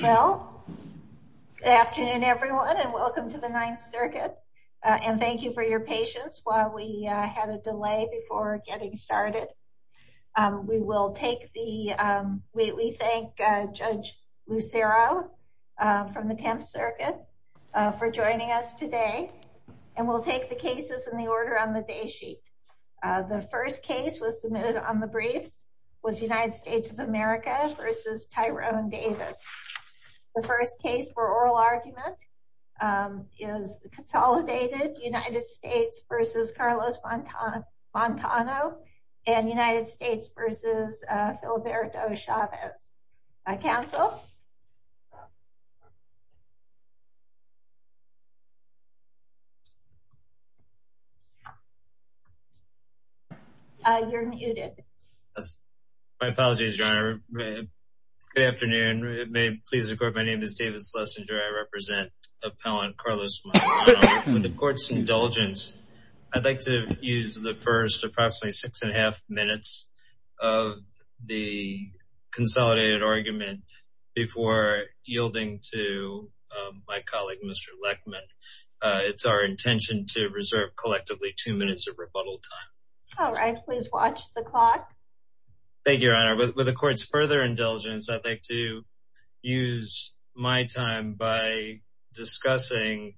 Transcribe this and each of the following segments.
Good afternoon everyone and welcome to the Ninth Circuit and thank you for your patience while we had a delay before getting started. We thank Judge Lucero from the Tenth Circuit for joining us today and we'll take the cases in the order on the day sheet. The first case was submitted on the briefs United States of America v. Tyrone Davis. The first case for oral argument is consolidated United States v. Carlos Montano and United States v. My apologies, Your Honor. Good afternoon. My name is David Schlesinger. I represent appellant Carlos Montano. With the court's indulgence, I'd like to use the first approximately six and a half minutes of the consolidated argument before yielding to my colleague Mr. Lechman. It's our intention to reserve collectively two o'clock. Thank you, Your Honor. With the court's further indulgence, I'd like to use my time by discussing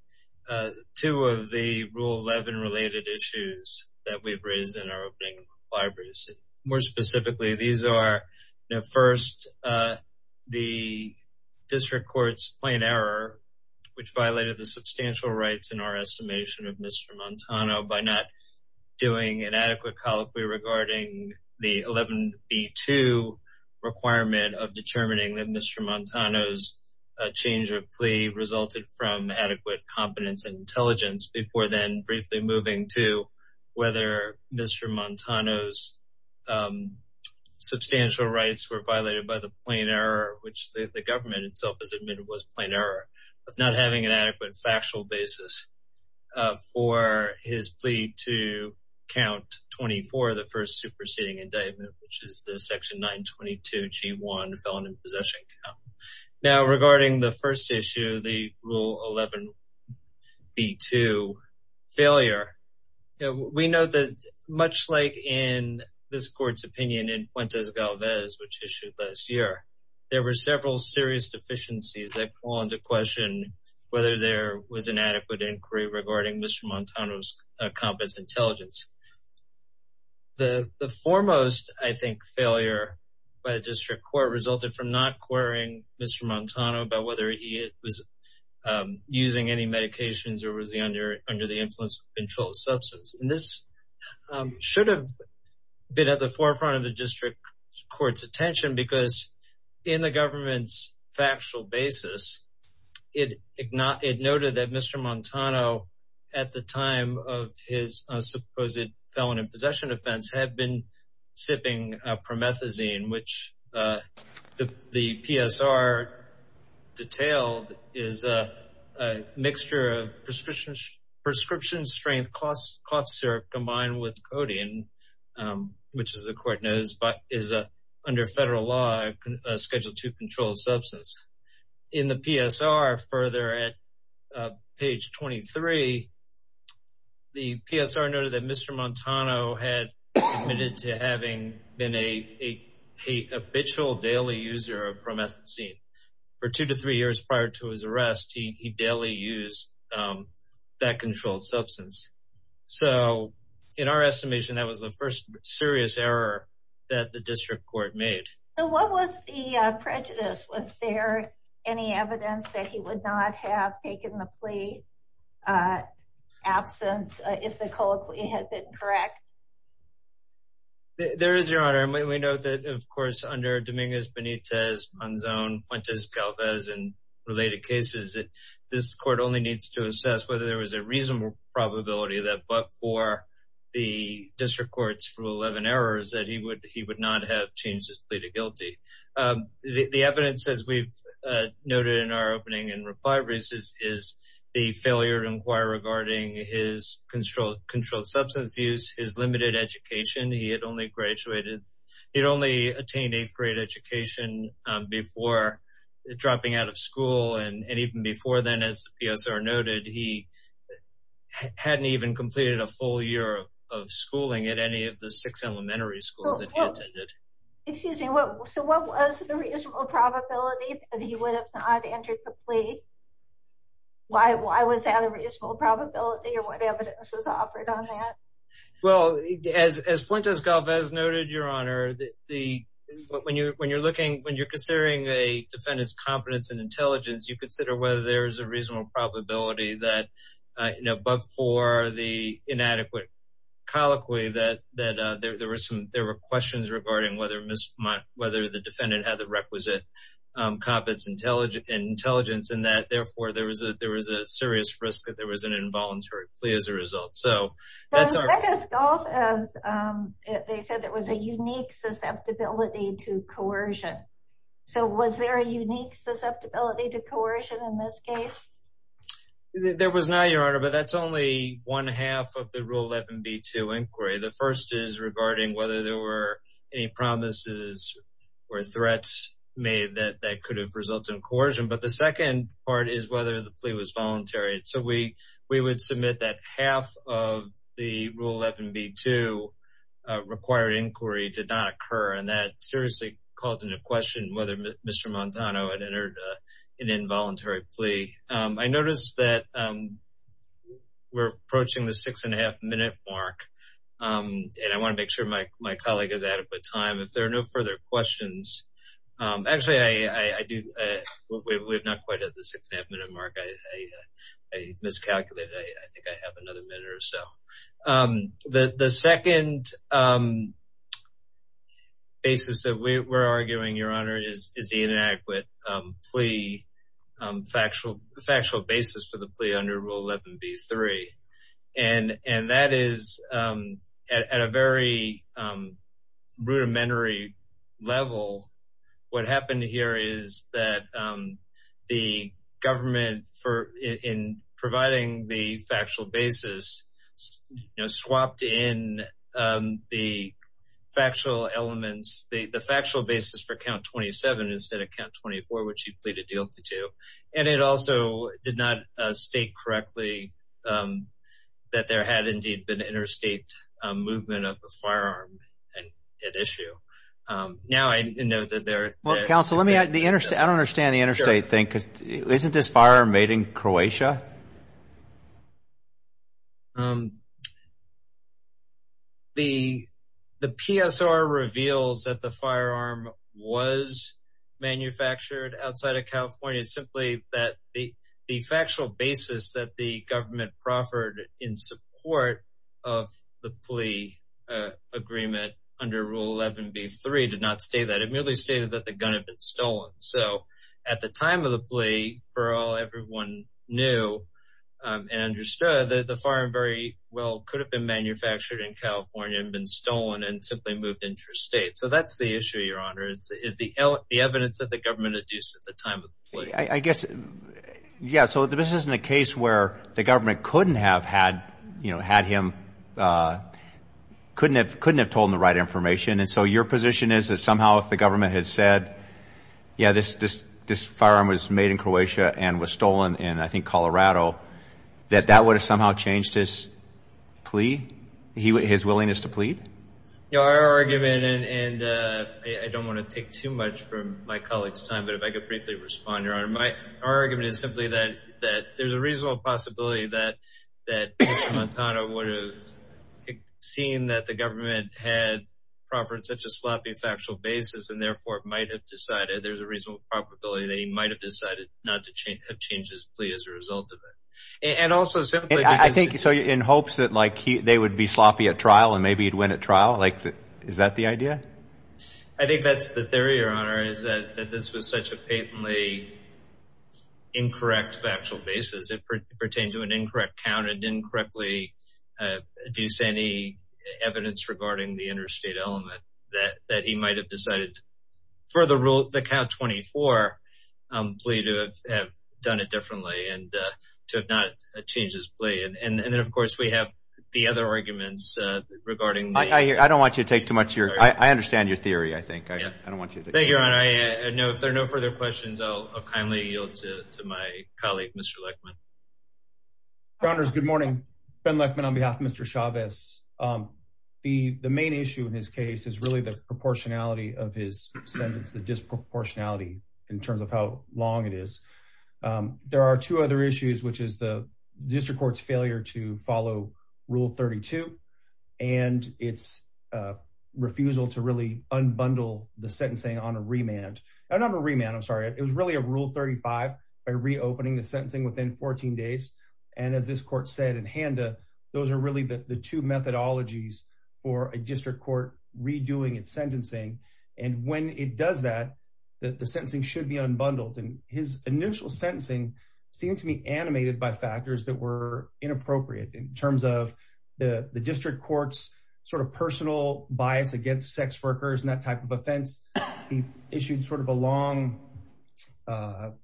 two of the Rule 11 related issues that we've raised in our opening libraries. More specifically, these are first the District Court's plain error which violated the substantial rights in our estimation of the 11B2 requirement of determining that Mr. Montano's change of plea resulted from adequate competence and intelligence before then briefly moving to whether Mr. Montano's substantial rights were violated by the plain error, which the government itself has admitted was plain error of not having an interceding indictment, which is the section 922G1 felon in possession. Now, regarding the first issue, the Rule 11B2 failure, we know that much like in this court's opinion in Puente Galvez, which issued last year, there were several serious deficiencies that call into question whether there was an adequate inquiry regarding Mr. Montano's competence and intelligence. The foremost, I think, failure by the District Court resulted from not querying Mr. Montano about whether he was using any medications or was he under the influence of controlled substance. This should have been at the forefront of the District Court's attention because in the government's factual basis, it noted that Mr. Montano, at the time of his supposed felon in possession offense, had been sipping promethazine, which the PSR detailed is a mixture of prescription-strength cough syrup combined with codeine, which, as the court knows, is under federal law scheduled to control substance. In the PSR further at page 23, the PSR noted that Mr. Montano had admitted to having been an habitual daily user of promethazine. For two to three years prior to his arrest, he daily used that controlled substance. So, in our estimation, that was the first serious error that the District Court made. So, what was the reason that Mr. Montano would not have taken the plea absent if the colloquy had been correct? There is, Your Honor, and we know that, of course, under Dominguez, Benitez, Monzon, Fuentes, Galvez, and related cases, that this court only needs to assess whether there was a reasonable probability that but for the District Court's Rule 11 errors that he would not have changed his is the failure to inquire regarding his controlled substance use, his limited education. He had only graduated, he'd only attained eighth grade education before dropping out of school, and even before then, as the PSR noted, he hadn't even completed a full year of schooling at any of the six elementary schools that he attended. Excuse me, so what was the reasonable probability that he would have not entered the plea? Why was that a reasonable probability, or what evidence was offered on that? Well, as Fuentes-Galvez noted, Your Honor, when you're looking, when you're considering a defendant's competence and intelligence, you consider whether there is a reasonable probability that, you know, but for the inadequate colloquy, that there were questions regarding whether the defendant had the requisite competence and intelligence in that, therefore, there was a serious risk that there was an involuntary plea as a result. So, that's our... But Fuentes-Galvez, they said there was a unique susceptibility to coercion. So was there a unique susceptibility to coercion in this case? There was not, Your Honor, but that's only one half of the Rule 11b-2 inquiry. The first is regarding whether there were any promises or threats made that could have resulted in coercion, but the second part is whether the plea was voluntary. So, we would submit that half of the Rule 11b-2 required inquiry did not occur, and that seriously called into question whether Mr. Montano had entered an involuntary plea. I noticed that we're approaching the six and a half minute mark, and I want to make sure my colleague has adequate time. If there are no further questions... Actually, I do... We're not quite at the six and a half minute mark. I miscalculated. I think I have another minute or so. The second basis that we're arguing, Your Honor, is the inadequate plea factual basis for the plea under Rule 11b-3, and that is at a very rudimentary level. What happened here is that the government, in providing the factual basis, swapped in the factual elements, the factual basis for Count 27 instead of Count 24, which he pleaded guilty to, and it also did not state correctly that there had indeed been interstate movement of the firearm at issue. Now, I know that there... Well, counsel, let me ask... I don't understand the interstate thing, because isn't this firearm made in Croatia? The PSR reveals that the firearm was manufactured outside of California. It's simply that the factual basis that the government proffered in support of the plea agreement under Rule 11b-3 did not state that. It merely stated that the gun had been stolen. So at the time of the plea, for all everyone knew and understood, that the firearm very well could have been manufactured in California and been stolen and simply moved interstate. So that's the issue, Your Honor, is the evidence that the government adduced at the time of the plea. I guess... Yeah, so this isn't a case where the government couldn't have had him... Couldn't have told him the right information. And so your position is that somehow if the government had said, yeah, this firearm was made in Croatia and was stolen in, I think, Colorado, that that would have somehow changed his plea, his willingness to plead? Your argument, and I don't want to take too much from my colleague's time, but if I could briefly respond, Your Honor, my argument is simply that there's a reasonable possibility that Mr. Montana would have seen that the government had proffered such a sloppy factual basis and therefore might have decided there's a reasonable probability that he might have decided not to change his plea as a result of it. And also simply... I think so, in hopes that, like, they would be sloppy at trial and maybe he'd win at trial. Like, is that the idea? I think that's the theory, Your Honor, is that this was such a patently incorrect factual basis. It pertains to an incorrect count. It didn't correctly deduce any evidence regarding the interstate element that he might have decided for the count 24 plea to have done it differently and to have not changed his plea. And then, of course, we have the other arguments regarding... I don't want you to take too much of your... I understand your theory, I think. I don't want you to... Thank you, Your Honor. If there are no further questions, I'll kindly yield to my colleague, Mr. Lechman. Your Honors, good morning. Ben Lechman on behalf of Mr. Chavez. The main issue in his case is really the proportionality of his sentence, the disproportionality in terms of how long it is. There are two other issues, which is the district court's failure to follow Rule 32 and its refusal to really unbundle the sentencing on a remand. Not a remand, I'm sorry. It was really a Rule 35 by reopening the sentencing within 14 days. And as this court said in Handa, those are really the two methodologies for a district court redoing its remand. The sentencing should be unbundled. And his initial sentencing seemed to be animated by factors that were inappropriate in terms of the district court's sort of personal bias against sex workers and that type of offense. He issued sort of a long, I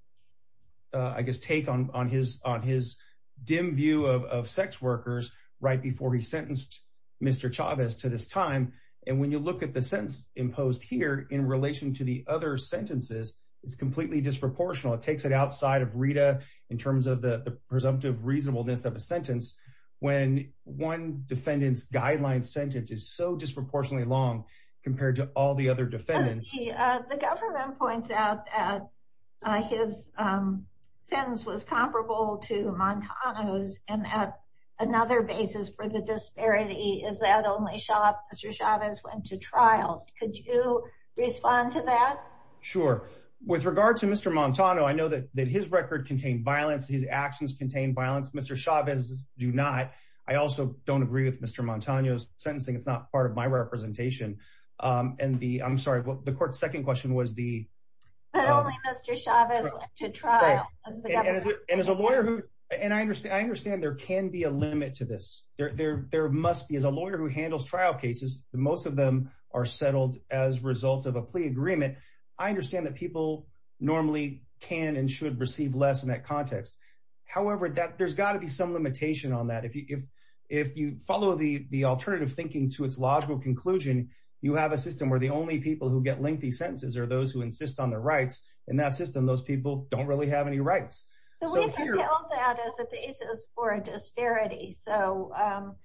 guess, take on his dim view of sex workers right before he sentenced Mr. Chavez to this time. And when you look at the sentence imposed here in relation to the other sentences, it's completely disproportional. It takes it outside of Rita in terms of the presumptive reasonableness of a sentence when one defendant's guideline sentence is so disproportionately long compared to all the other defendants. The government points out that his sentence was comparable to Montano's and that another basis for the disparity is that only shop Mr. Chavez went to trial. Could you respond to that? Sure. With regard to Mr Montano, I know that his record contained violence. His actions contain violence. Mr Chavez do not. I also don't agree with Mr Montano's sentencing. It's not part of my representation. Um, and the I'm sorry. The court's second question was the only Mr Chavez went to trial. And as a lawyer who and I understand I understand there can be a there there must be as a lawyer who handles trial cases, most of them are settled as results of a plea agreement. I understand that people normally can and should receive less in that context. However, that there's got to be some limitation on that. If you follow the alternative thinking to its logical conclusion, you have a system where the only people who get lengthy sentences are those who insist on their rights in that system. Those people don't really have any rights. So we've held that as a basis for a disparity. So, um,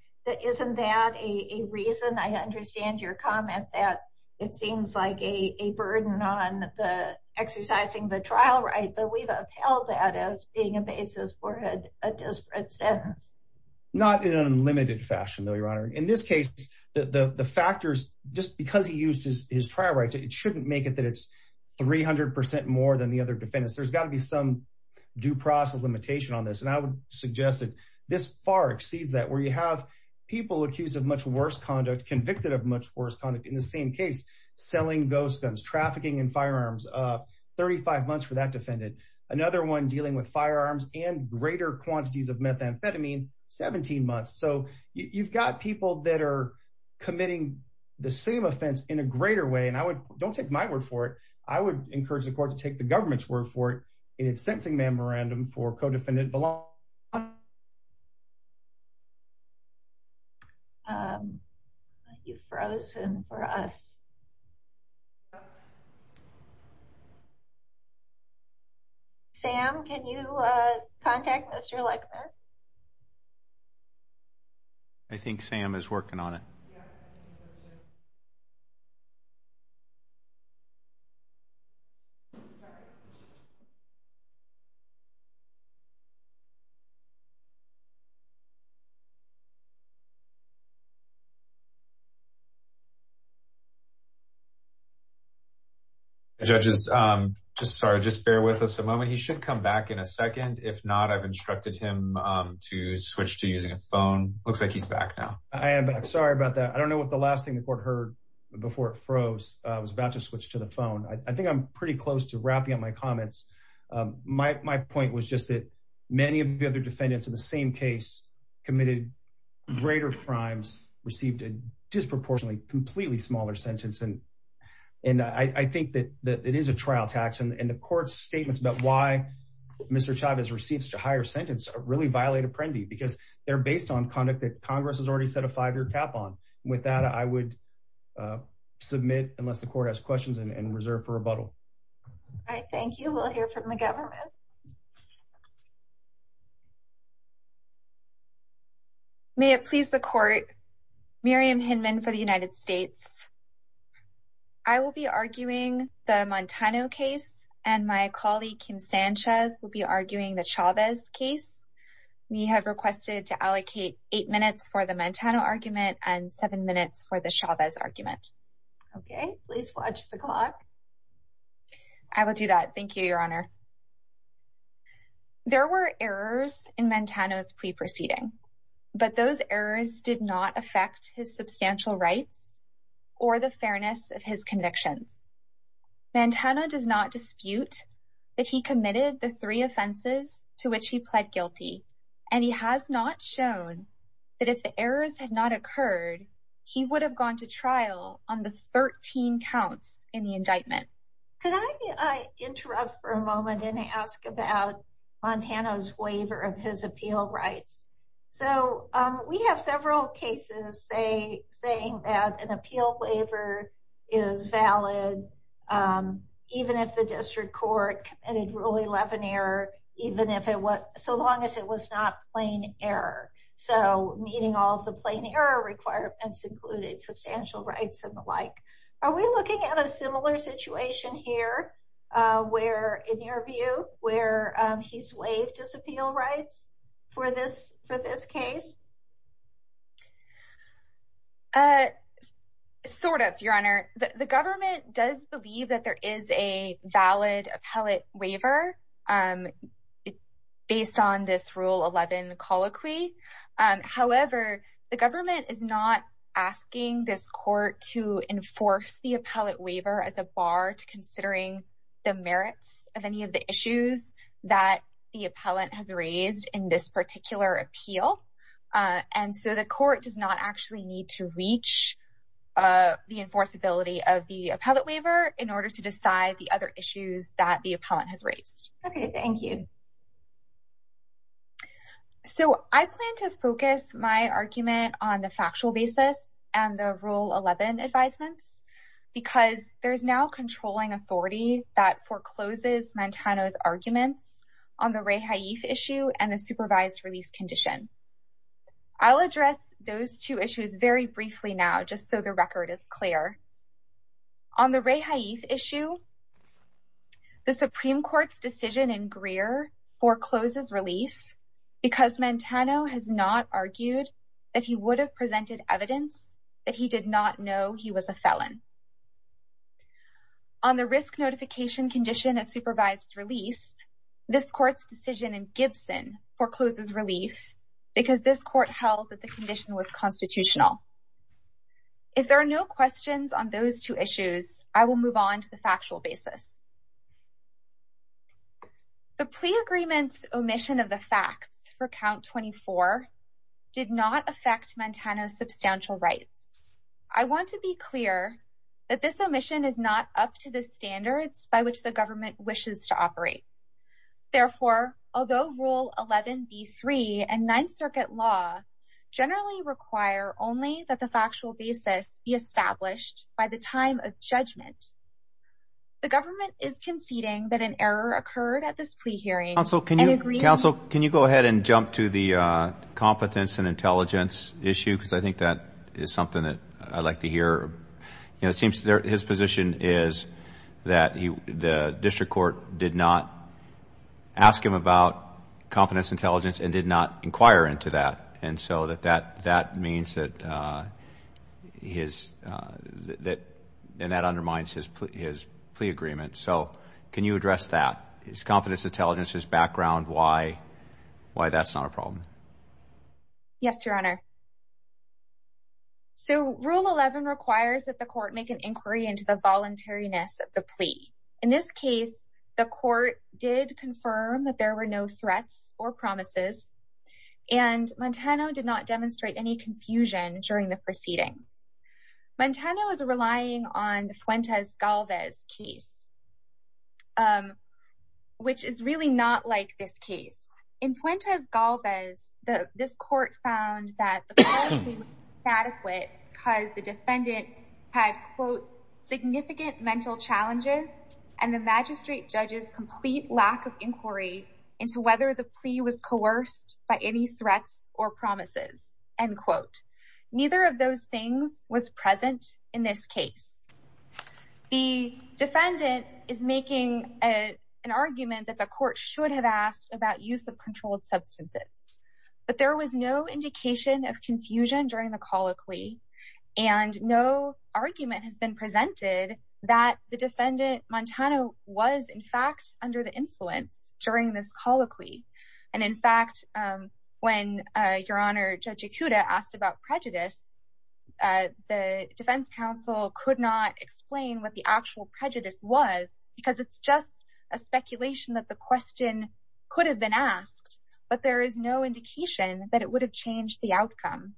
isn't that a reason? I understand your comment that it seems like a burden on the exercising the trial, right? But we've upheld that as being a basis for had a disparate sentence, not in unlimited fashion, though, Your Honor. In this case, the factors just because he used his trial rights, it shouldn't make it that it's 300% more than the other defendants. There's got to be some due process limitation on this, and I would suggest that this far exceeds that, where you have people accused of much worse conduct, convicted of much worse kind of in the same case, selling ghost guns, trafficking and firearms. Uh, 35 months for that defended another one dealing with firearms and greater quantities of methamphetamine 17 months. So you've got people that air committing the same offense in a greater way, and I would don't take my word for it. I would encourage the court to take the government's word for it in its sentencing memorandum for codependent belong. Um, you've frozen for us. Sam, can you contact Mr Legman? I think Sam is working on it. Yeah. Judges. Um, just sorry. Just bear with us a moment. He should come back in a second. If not, I've instructed him to switch to using a phone. Looks like he's back now. I am. Sorry about that. I don't know what the last thing the court heard before it froze. I was about to switch to the phone. I think I'm pretty close to wrapping up my comments. My point was just that many of the other defendants in the same case committed greater crimes, received a disproportionately completely smaller sentence. And I think that it is a trial tax, and the court's statements about why Mr Chavez receives to higher sentence really violate Apprendi because they're based on conduct that Congress has already set a five year cap on. With that, I would, uh, submit unless the court has questions and reserve for rebuttal. All right. Thank you. We'll hear from the government. May it please the court. Miriam Hinman for the United States. I will be arguing the Montano case, and my colleague Kim Sanchez will be arguing the Chavez case. We have requested to allocate eight minutes for the Montana argument and seven minutes for the Chavez argument. Okay, please watch the clock. I will do that. Thank you, Your Honor. There were errors in Montana's plea proceeding, but those errors did not affect his substantial rights or the fairness of his convictions. Montana does not dispute that he committed the three offenses to which he pled guilty, and he has not shown that if the errors had not occurred, he would have gone to trial on the 13 counts in the indictment. Could I interrupt for a moment and ask about Montana's waiver of his appeal rights? So we have several cases say saying that an appeal waiver is valid, even if the district court committed Rule 11 error, even if it was so long as it was not plain error. So meeting all the plain error requirements included substantial rights and the like. Are we looking at a similar situation here where, in your view, where he's waived his appeal rights for this for this case? Uh, sort of, Your Honor. The government does believe that there is a valid appellate waiver, um, based on this Rule 11 colloquy. However, the government is not asking this court to enforce the appellate waiver as a bar to considering the merits of any of the issues that the appellant has raised in this particular appeal. And so the court does not actually need to reach, uh, the enforceability of the appellate waiver in order to decide the other issues that the appellant has raised. Okay, thank you. So I plan to focus my argument on the factual basis and the Rule 11 advisements because there's now controlling authority that forecloses Mantano's arguments on the rehaif issue and the supervised release condition. I'll address those two issues very briefly now, just so the record is clear on the rehaif issue. The Supreme Court's decision in Greer forecloses relief because Mantano has not argued that he would have presented evidence that he did not know he was a If there are no questions on those two issues, I will move on to the factual basis. The plea agreement's omission of the facts for count 24 did not affect Mantano's substantial rights. I want to be clear that this omission is not up to the standards by which the government wishes to operate. Therefore, although Rule 11 B three and Ninth Circuit law generally require only that the factual basis be established by the time of judgment, the government is conceding that an error occurred at this plea hearing. So can you agree? Counsel, can you go ahead and jump to the competence and intelligence issue? Because I think that is something that I'd like to hear. You know, it seems his position is that the district court did not ask him about competence, intelligence and did not inquire into that. And so that that that means that his that that undermines his plea agreement. So can you address that? His competence, intelligence, his background? Why? Why? That's not a problem. Yes, Your Honor. So Rule 11 requires that the court make an inquiry into the voluntariness of the plea. In this case, the court did confirm that there were no threats or promises, and Montana did not demonstrate any confusion during the proceedings. Montana was relying on Fuentes Galvez case. Um, which is really not like this case in Fuentes Galvez. This court found that adequate because the defendant had, quote, significant mental challenges and the magistrate judges complete lack of inquiry into whether the plea was coerced by any threats or promises and quote. Neither of those things was present in this case. The defendant is making a an argument that the court should have asked about use of controlled substances. But there was no indication of confusion during the colloquy, and no argument has been presented that the defendant Montana was, in fact, under the influence during this colloquy. And, in fact, when your honor, Judge Akuta asked about prejudice, the defense counsel could not explain what the actual prejudice was because it's just a speculation that the question could have been asked. But there is no indication that it would have changed the outcome.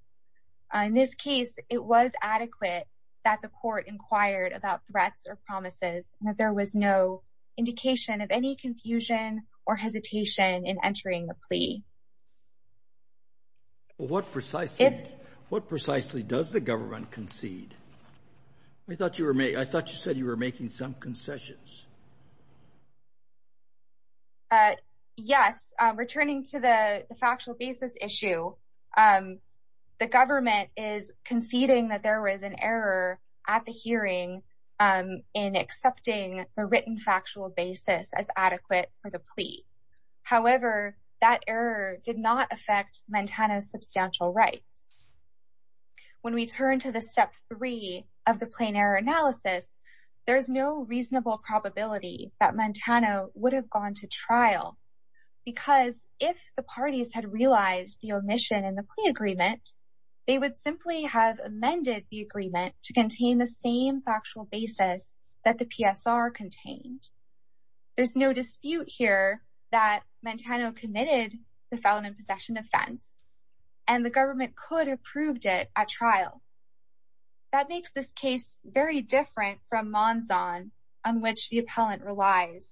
In this case, it was adequate that the court inquired about threats or promises that there was no indication of any confusion or hesitation in entering the What precisely does the government concede? I thought you were made. I thought you said you were making some concessions. Uh, yes. Returning to the factual basis issue. Um, the government is conceding that there was an error at the hearing in accepting the written factual basis as adequate for the plea. However, that error did not affect Montana's When we turn to the step three of the plane air analysis, there's no reasonable probability that Montana would have gone to trial because if the parties had realized the omission in the plea agreement, they would simply have amended the agreement to contain the same factual basis that the PSR contained. There's no dispute here that Montana committed the felon in proved it at trial. That makes this case very different from monzon on which the appellant relies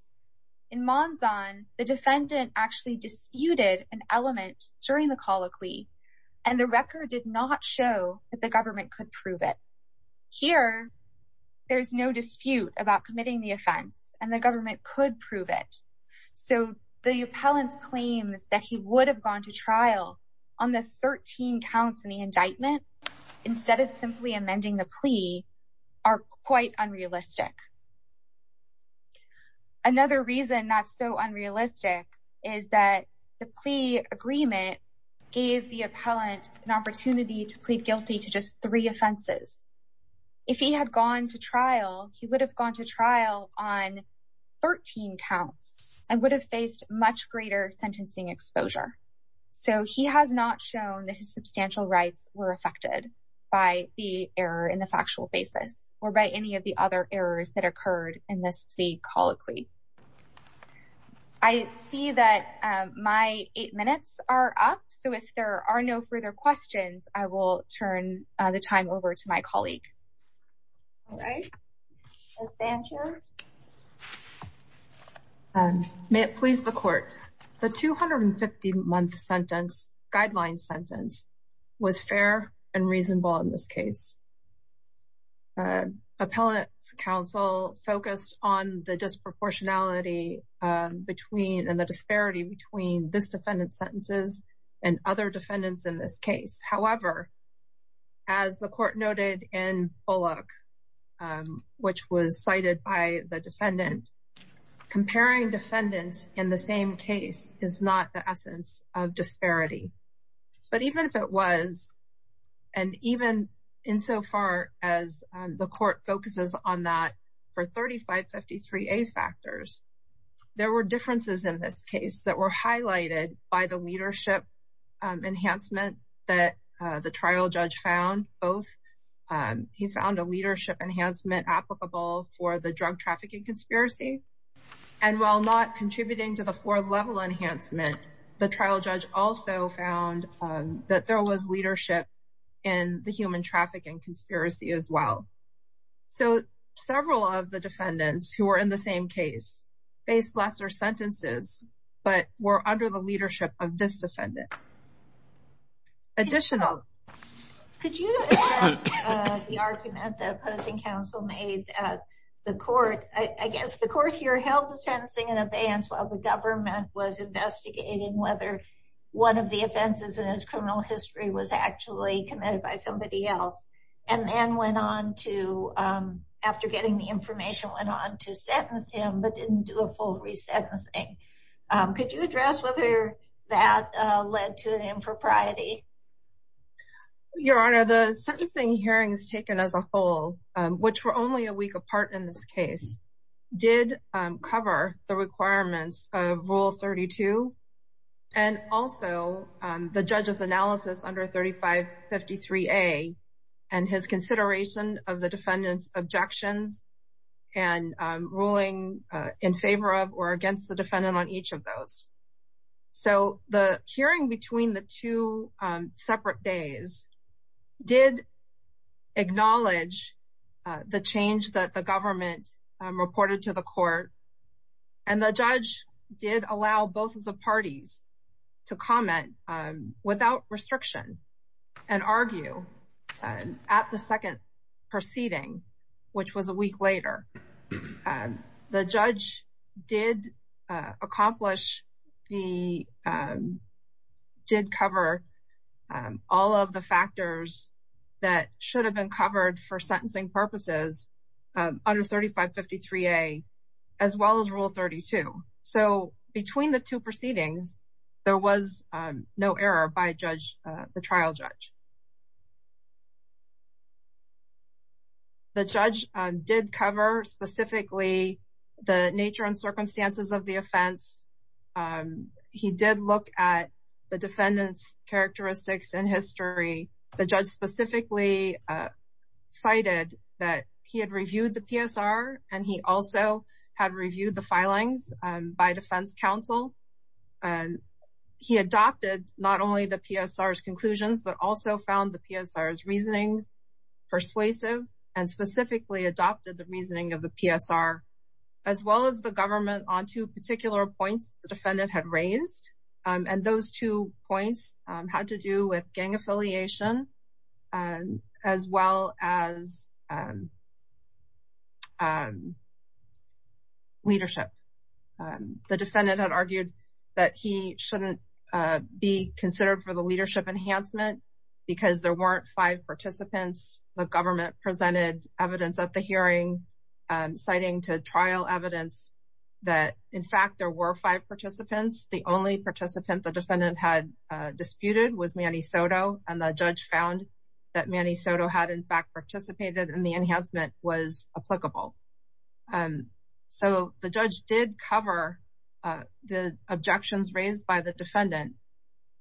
in monzon. The defendant actually disputed an element during the colloquy, and the record did not show that the government could prove it here. There's no dispute about committing the offense, and the government could prove it. So the appellant's claims that he would have gone to trial on the 13 counts in the indictment instead of simply amending the plea are quite unrealistic. Another reason that's so unrealistic is that the plea agreement gave the appellant an opportunity to plead guilty to just three offenses. If he had gone to trial, he would have gone to trial on 13 counts and would have faced much greater sentencing exposure. So he has not shown that his substantial rights were affected by the error in the factual basis or by any of the other errors that occurred in this plea colloquy. I see that my eight minutes are up, so if there are no further questions, I will turn the time over to my colleague. All right. Ms. Sanchez? May it please the court. The 250-month sentence, guideline sentence, was fair and reasonable in this case. Appellant's counsel focused on the disproportionality and the disparity between this defendant's sentences and other defendants in this case. However, as the court noted in Bullock, which was highlighted by the defendant, comparing defendants in the same case is not the essence of disparity. But even if it was, and even insofar as the court focuses on that for 3553A factors, there were differences in this case that were highlighted by the leadership enhancement that the trial judge found. Both, he found a leadership enhancement applicable for the drug trafficking conspiracy. And while not contributing to the fourth level enhancement, the trial judge also found that there was leadership in the human trafficking conspiracy as well. So several of the defendants who were in the same case faced lesser sentences, but were under the leadership of this defendant. Additional. Could you address the argument that opposing counsel made at the court? I guess the court here held the sentencing in advance while the government was investigating whether one of the offenses in his criminal history was actually committed by somebody else, and then went on to, after getting the information, went on to sentence him, but didn't do a full resentencing. Could you address whether that led to an impropriety? Your Honor, the sentencing hearings taken as a whole, which were only a week apart in this case, did cover the requirements of Rule 32. And also, the judge's analysis under 3553A, and his consideration of the defendant's objections and ruling in favor of or against the defendant on each of those. So the hearing between the two separate days did acknowledge the change that the government reported to the court. And the judge did allow both of the parties to comment without restriction and argue at the second proceeding, which was a week later. The judge did accomplish the, did cover all of the factors that should have been covered for sentencing purposes under 3553A, as well as Rule 32. So between the two proceedings, there was no error by the trial judge. The judge did cover specifically the nature and circumstances of the offense. He did look at the defendant's characteristics and history. The judge specifically cited that he had reviewed the PSR, and he also had reviewed the filings by Defense Counsel. And he adopted not only the PSR's conclusions, but also found the PSR's reasonings persuasive, and specifically adopted the reasoning of the PSR, as well as the government on two particular points the defendant had raised. And those two points had to do with gang affiliation, as well as leadership. The defendant had argued that he shouldn't be considered for the leadership enhancement, because there weren't five participants. The government presented evidence at the hearing, citing to trial evidence that, in fact, there were five participants. The only participant the defendant had disputed was Manny Soto, and the judge found that Manny Soto had, in fact, participated in the enhancement was applicable. So the judge did cover the objections raised by the defendant,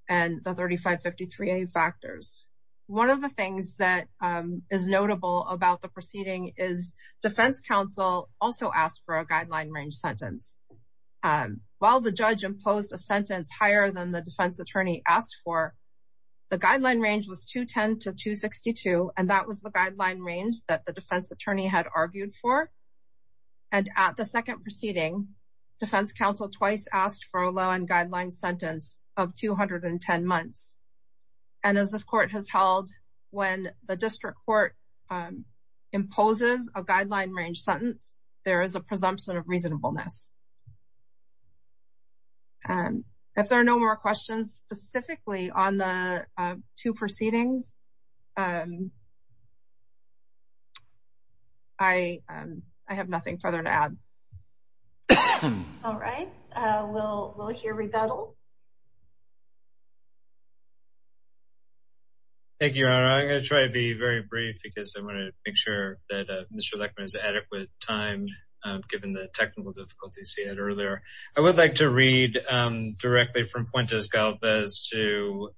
and the 3553A factors. One of the things that is notable about the proceeding is Defense Counsel also asked for a guideline range sentence. While the judge imposed a sentence higher than the defense attorney asked for, the guideline range was 210 to 262. And that was the guideline range that the defense attorney had argued for. And at the second proceeding, Defense Counsel twice asked for a low end guideline sentence of 210 months. And as this court has held, when the district court imposes a guideline range sentence, there is a presumption of reasonableness. And if there are no more questions specifically on the two proceedings, I have nothing further to add. All right, we'll hear rebuttal. Thank you. I'm going to try to be very brief because I want to make sure that Mr. Lechman has adequate time, given the technical difficulties he had earlier. I would like to read directly from Fuentes-Galvez to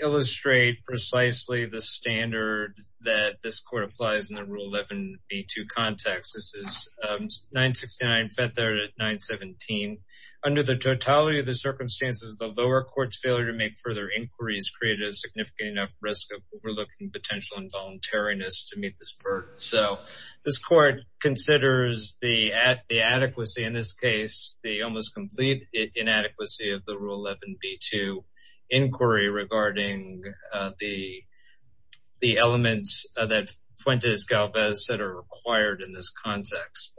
illustrate precisely the standard that this court applies in the Rule 11b2 context. This is 969, Feathered at 917. Under the totality of the circumstances, the lower court's failure to make further inquiries created a significant enough risk of overlooking potential involuntariness to meet this burden. So this court considers the adequacy, in this case, the almost complete inadequacy of the Rule 11b2 inquiry regarding the elements that Fuentes-Galvez said are required in this context.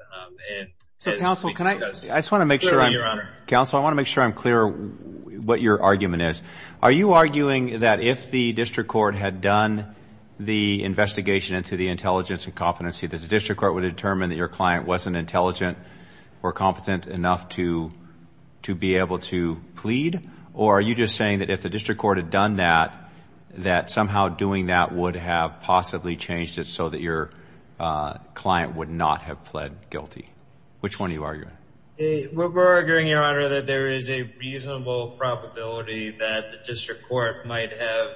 Counsel, I want to make sure I'm clear what your argument is. Are you arguing that if the district court had done the investigation into the intelligence and competency, that the district court would determine that your client wasn't intelligent or competent enough to be able to plead? Or are you just saying that if the district court had done that, that somehow doing that would have possibly changed it so that your client would not have pled guilty? Which one are you arguing? We're arguing, Your Honor, that there is a reasonable probability that the district court might have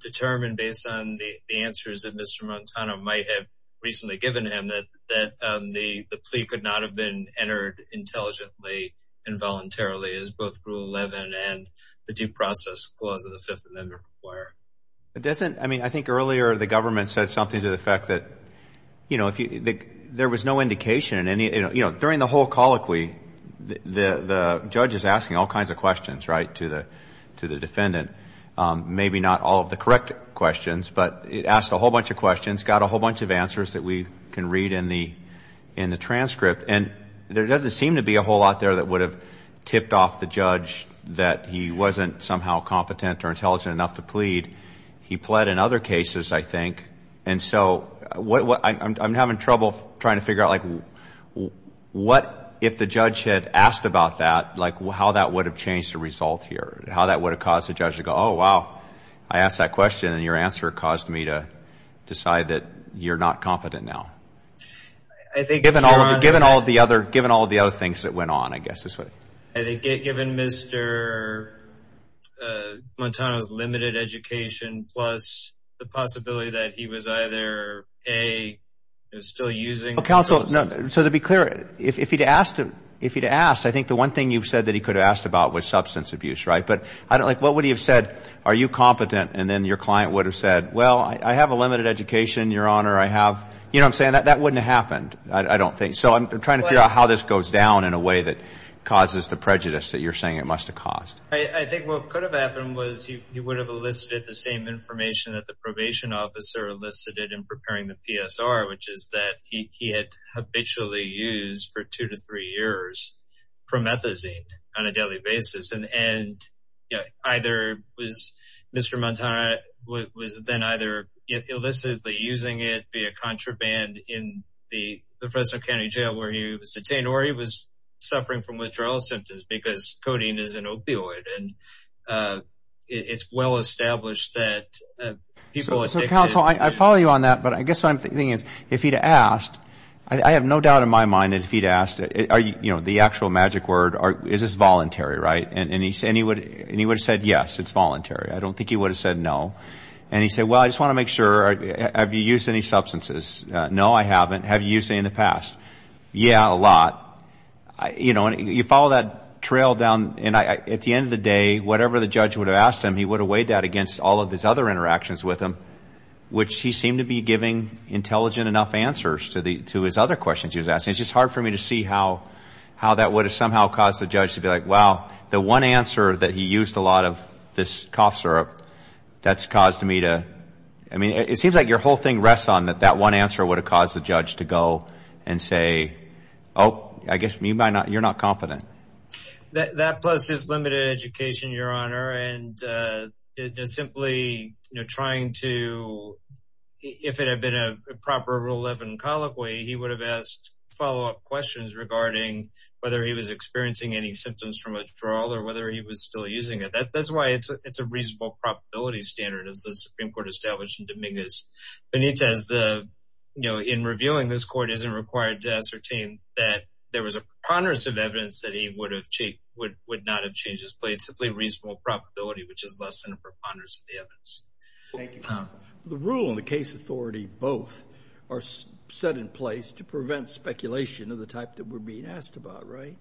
determined, based on the answers that Mr. Montano might have recently given him, that the plea could not have been entered intelligently, involuntarily, as both Rule 11 and the due process clause of the Fifth Amendment require. It doesn't, I mean, I think earlier the government said something to the effect that, you know, there was no indication in any, you know, during the whole colloquy, the judge is asking all kinds of questions, right, to the defendant. Maybe not all of the correct questions, but it asked a whole bunch of questions, got a whole bunch of answers that we can read in the transcript, and there doesn't seem to be a whole lot there that would have tipped off the judge that he wasn't somehow competent or intelligent enough to plead. He pled in other cases, I think, and so I'm having trouble trying to figure out, like, what if the judge had asked about that, like, how that would have changed the result here, how that would have caused the judge to go, oh, wow, I asked that question, and your answer caused me to decide that you're not competent now, given all of the other things that went on, I guess is what. I think, given Mr. Montano's limited education, plus the possibility that he was either, A, still using the process. No, counsel, so to be clear, if he'd asked, I think the one thing you've said that he could have asked about was substance abuse, right, but, like, what would he have said, are you competent, and then your client would have said, well, I have a limited education, your honor, I have, you know what I'm saying, that wouldn't have happened, I don't think, so I'm trying to figure out how this goes down in a way that causes the prejudice that you're saying it must have caused. I think what could have happened was he would have elicited the same information that the used for two to three years from ethazine on a daily basis, and, you know, either was Mr. Montano was then either illicitly using it via contraband in the Fresno County Jail where he was detained, or he was suffering from withdrawal symptoms, because codeine is an opioid, and it's well-established that people addicted to codeine... I have no doubt in my mind that if he'd asked, you know, the actual magic word, is this voluntary, right, and he would have said yes, it's voluntary, I don't think he would have said no, and he'd say, well, I just want to make sure, have you used any substances, no, I haven't, have you used any in the past, yeah, a lot, you know, and you follow that trail down, and at the end of the day, whatever the judge would have asked him, he would have weighed that against all of his other interactions with him, which he seemed to be giving intelligent enough answers to his other questions he was asking, it's just hard for me to see how that would have somehow caused the judge to be like, wow, the one answer that he used a lot of this cough syrup, that's caused me to, I mean, it seems like your whole thing rests on that that one answer would have caused the judge to go and say, oh, I guess you're not confident. That plus his limited education, Your Honor, and simply, you know, trying to, if it had been a proper Rule 11 colloquy, he would have asked follow up questions regarding whether he was experiencing any symptoms from withdrawal or whether he was still using it. That's why it's a reasonable probability standard as the Supreme Court established in Dominguez Benitez, you know, in reviewing this court isn't required to ascertain that there was a preponderance of evidence that he would have, would not have changed his plea. It's simply reasonable probability, which is less than a preponderance of the evidence. The rule and the case authority both are set in place to prevent speculation of the type that we're being asked about, right?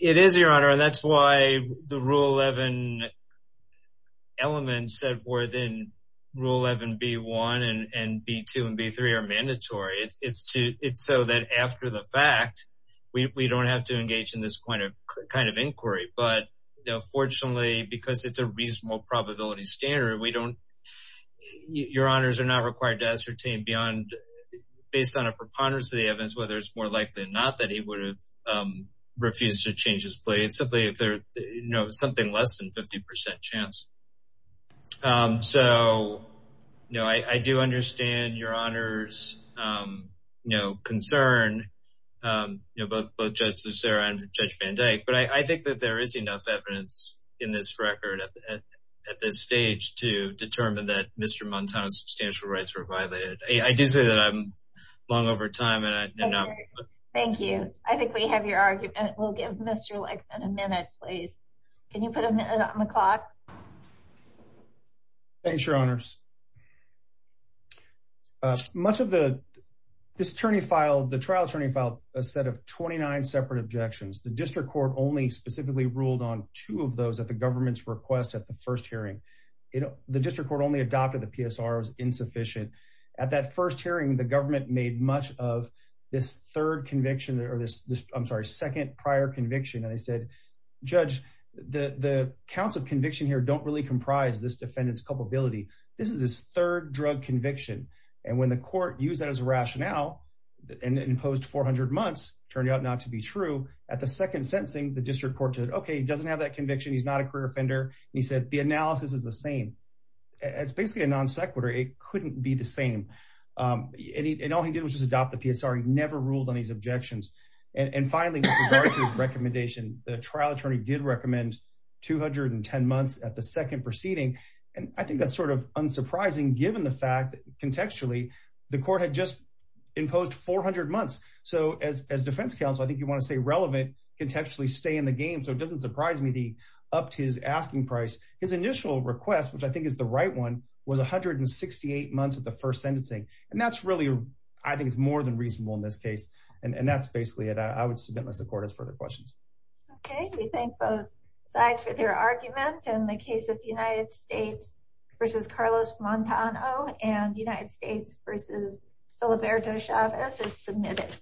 It is, Your Honor, and that's why the Rule 11 elements that were then Rule 11, B1 and B2 and B3 are mandatory. It's so that after the fact, we don't have to engage in this kind of inquiry. But, you know, fortunately, because it's a reasonable probability standard, we don't, Your Honors, are not required to ascertain beyond, based on a preponderance of the evidence, whether it's more likely or not that he would have refused to change his plea. It's simply if there, you know, something less than 50% chance. So, you know, I do understand Your Honor's, you know, concern, you know, both Judge Lucera and Judge Van Dyke, but I think that there is enough evidence in this record at this stage to determine that Mr. Montano's substantial rights were violated. I do say that I'm long over time. Thank you. I think we have your argument. We'll give Mr. Legman a minute, please. Can Thanks, Your Honors. Much of the, this attorney filed, the trial attorney filed a set of 29 separate objections. The district court only specifically ruled on two of those at the government's request at the first hearing. You know, the district court only adopted the PSR as insufficient. At that first hearing, the government made much of this third conviction or this, I'm sorry, second prior conviction. And they said, Judge, the counts of conviction here don't really comprise this defendant's culpability. This is his third drug conviction. And when the court used that as a rationale and imposed 400 months, turned out not to be true. At the second sentencing, the district court said, okay, he doesn't have that conviction. He's not a career offender. And he said, the analysis is the same. It's basically a non sequitur. It couldn't be the same. And all he did was just adopt the PSR. He never ruled on these objections. And finally, with regard to his recommendation, the trial attorney did recommend 210 months at the second proceeding. And I think that's sort of unsurprising given the fact that contextually, the court had just imposed 400 months. So as defense counsel, I think you want to say relevant, contextually stay in the game. So it doesn't surprise me the up to his asking price. His initial request, which I think is the right one, was 168 months at the first sentencing. And that's really, I think it's more than reasonable in this case. And that's basically it. I would submit unless the court has further questions. Okay, we thank both sides for their argument and the case of United States versus Carlos Montano and United States versus Filiberto Chavez is submitted.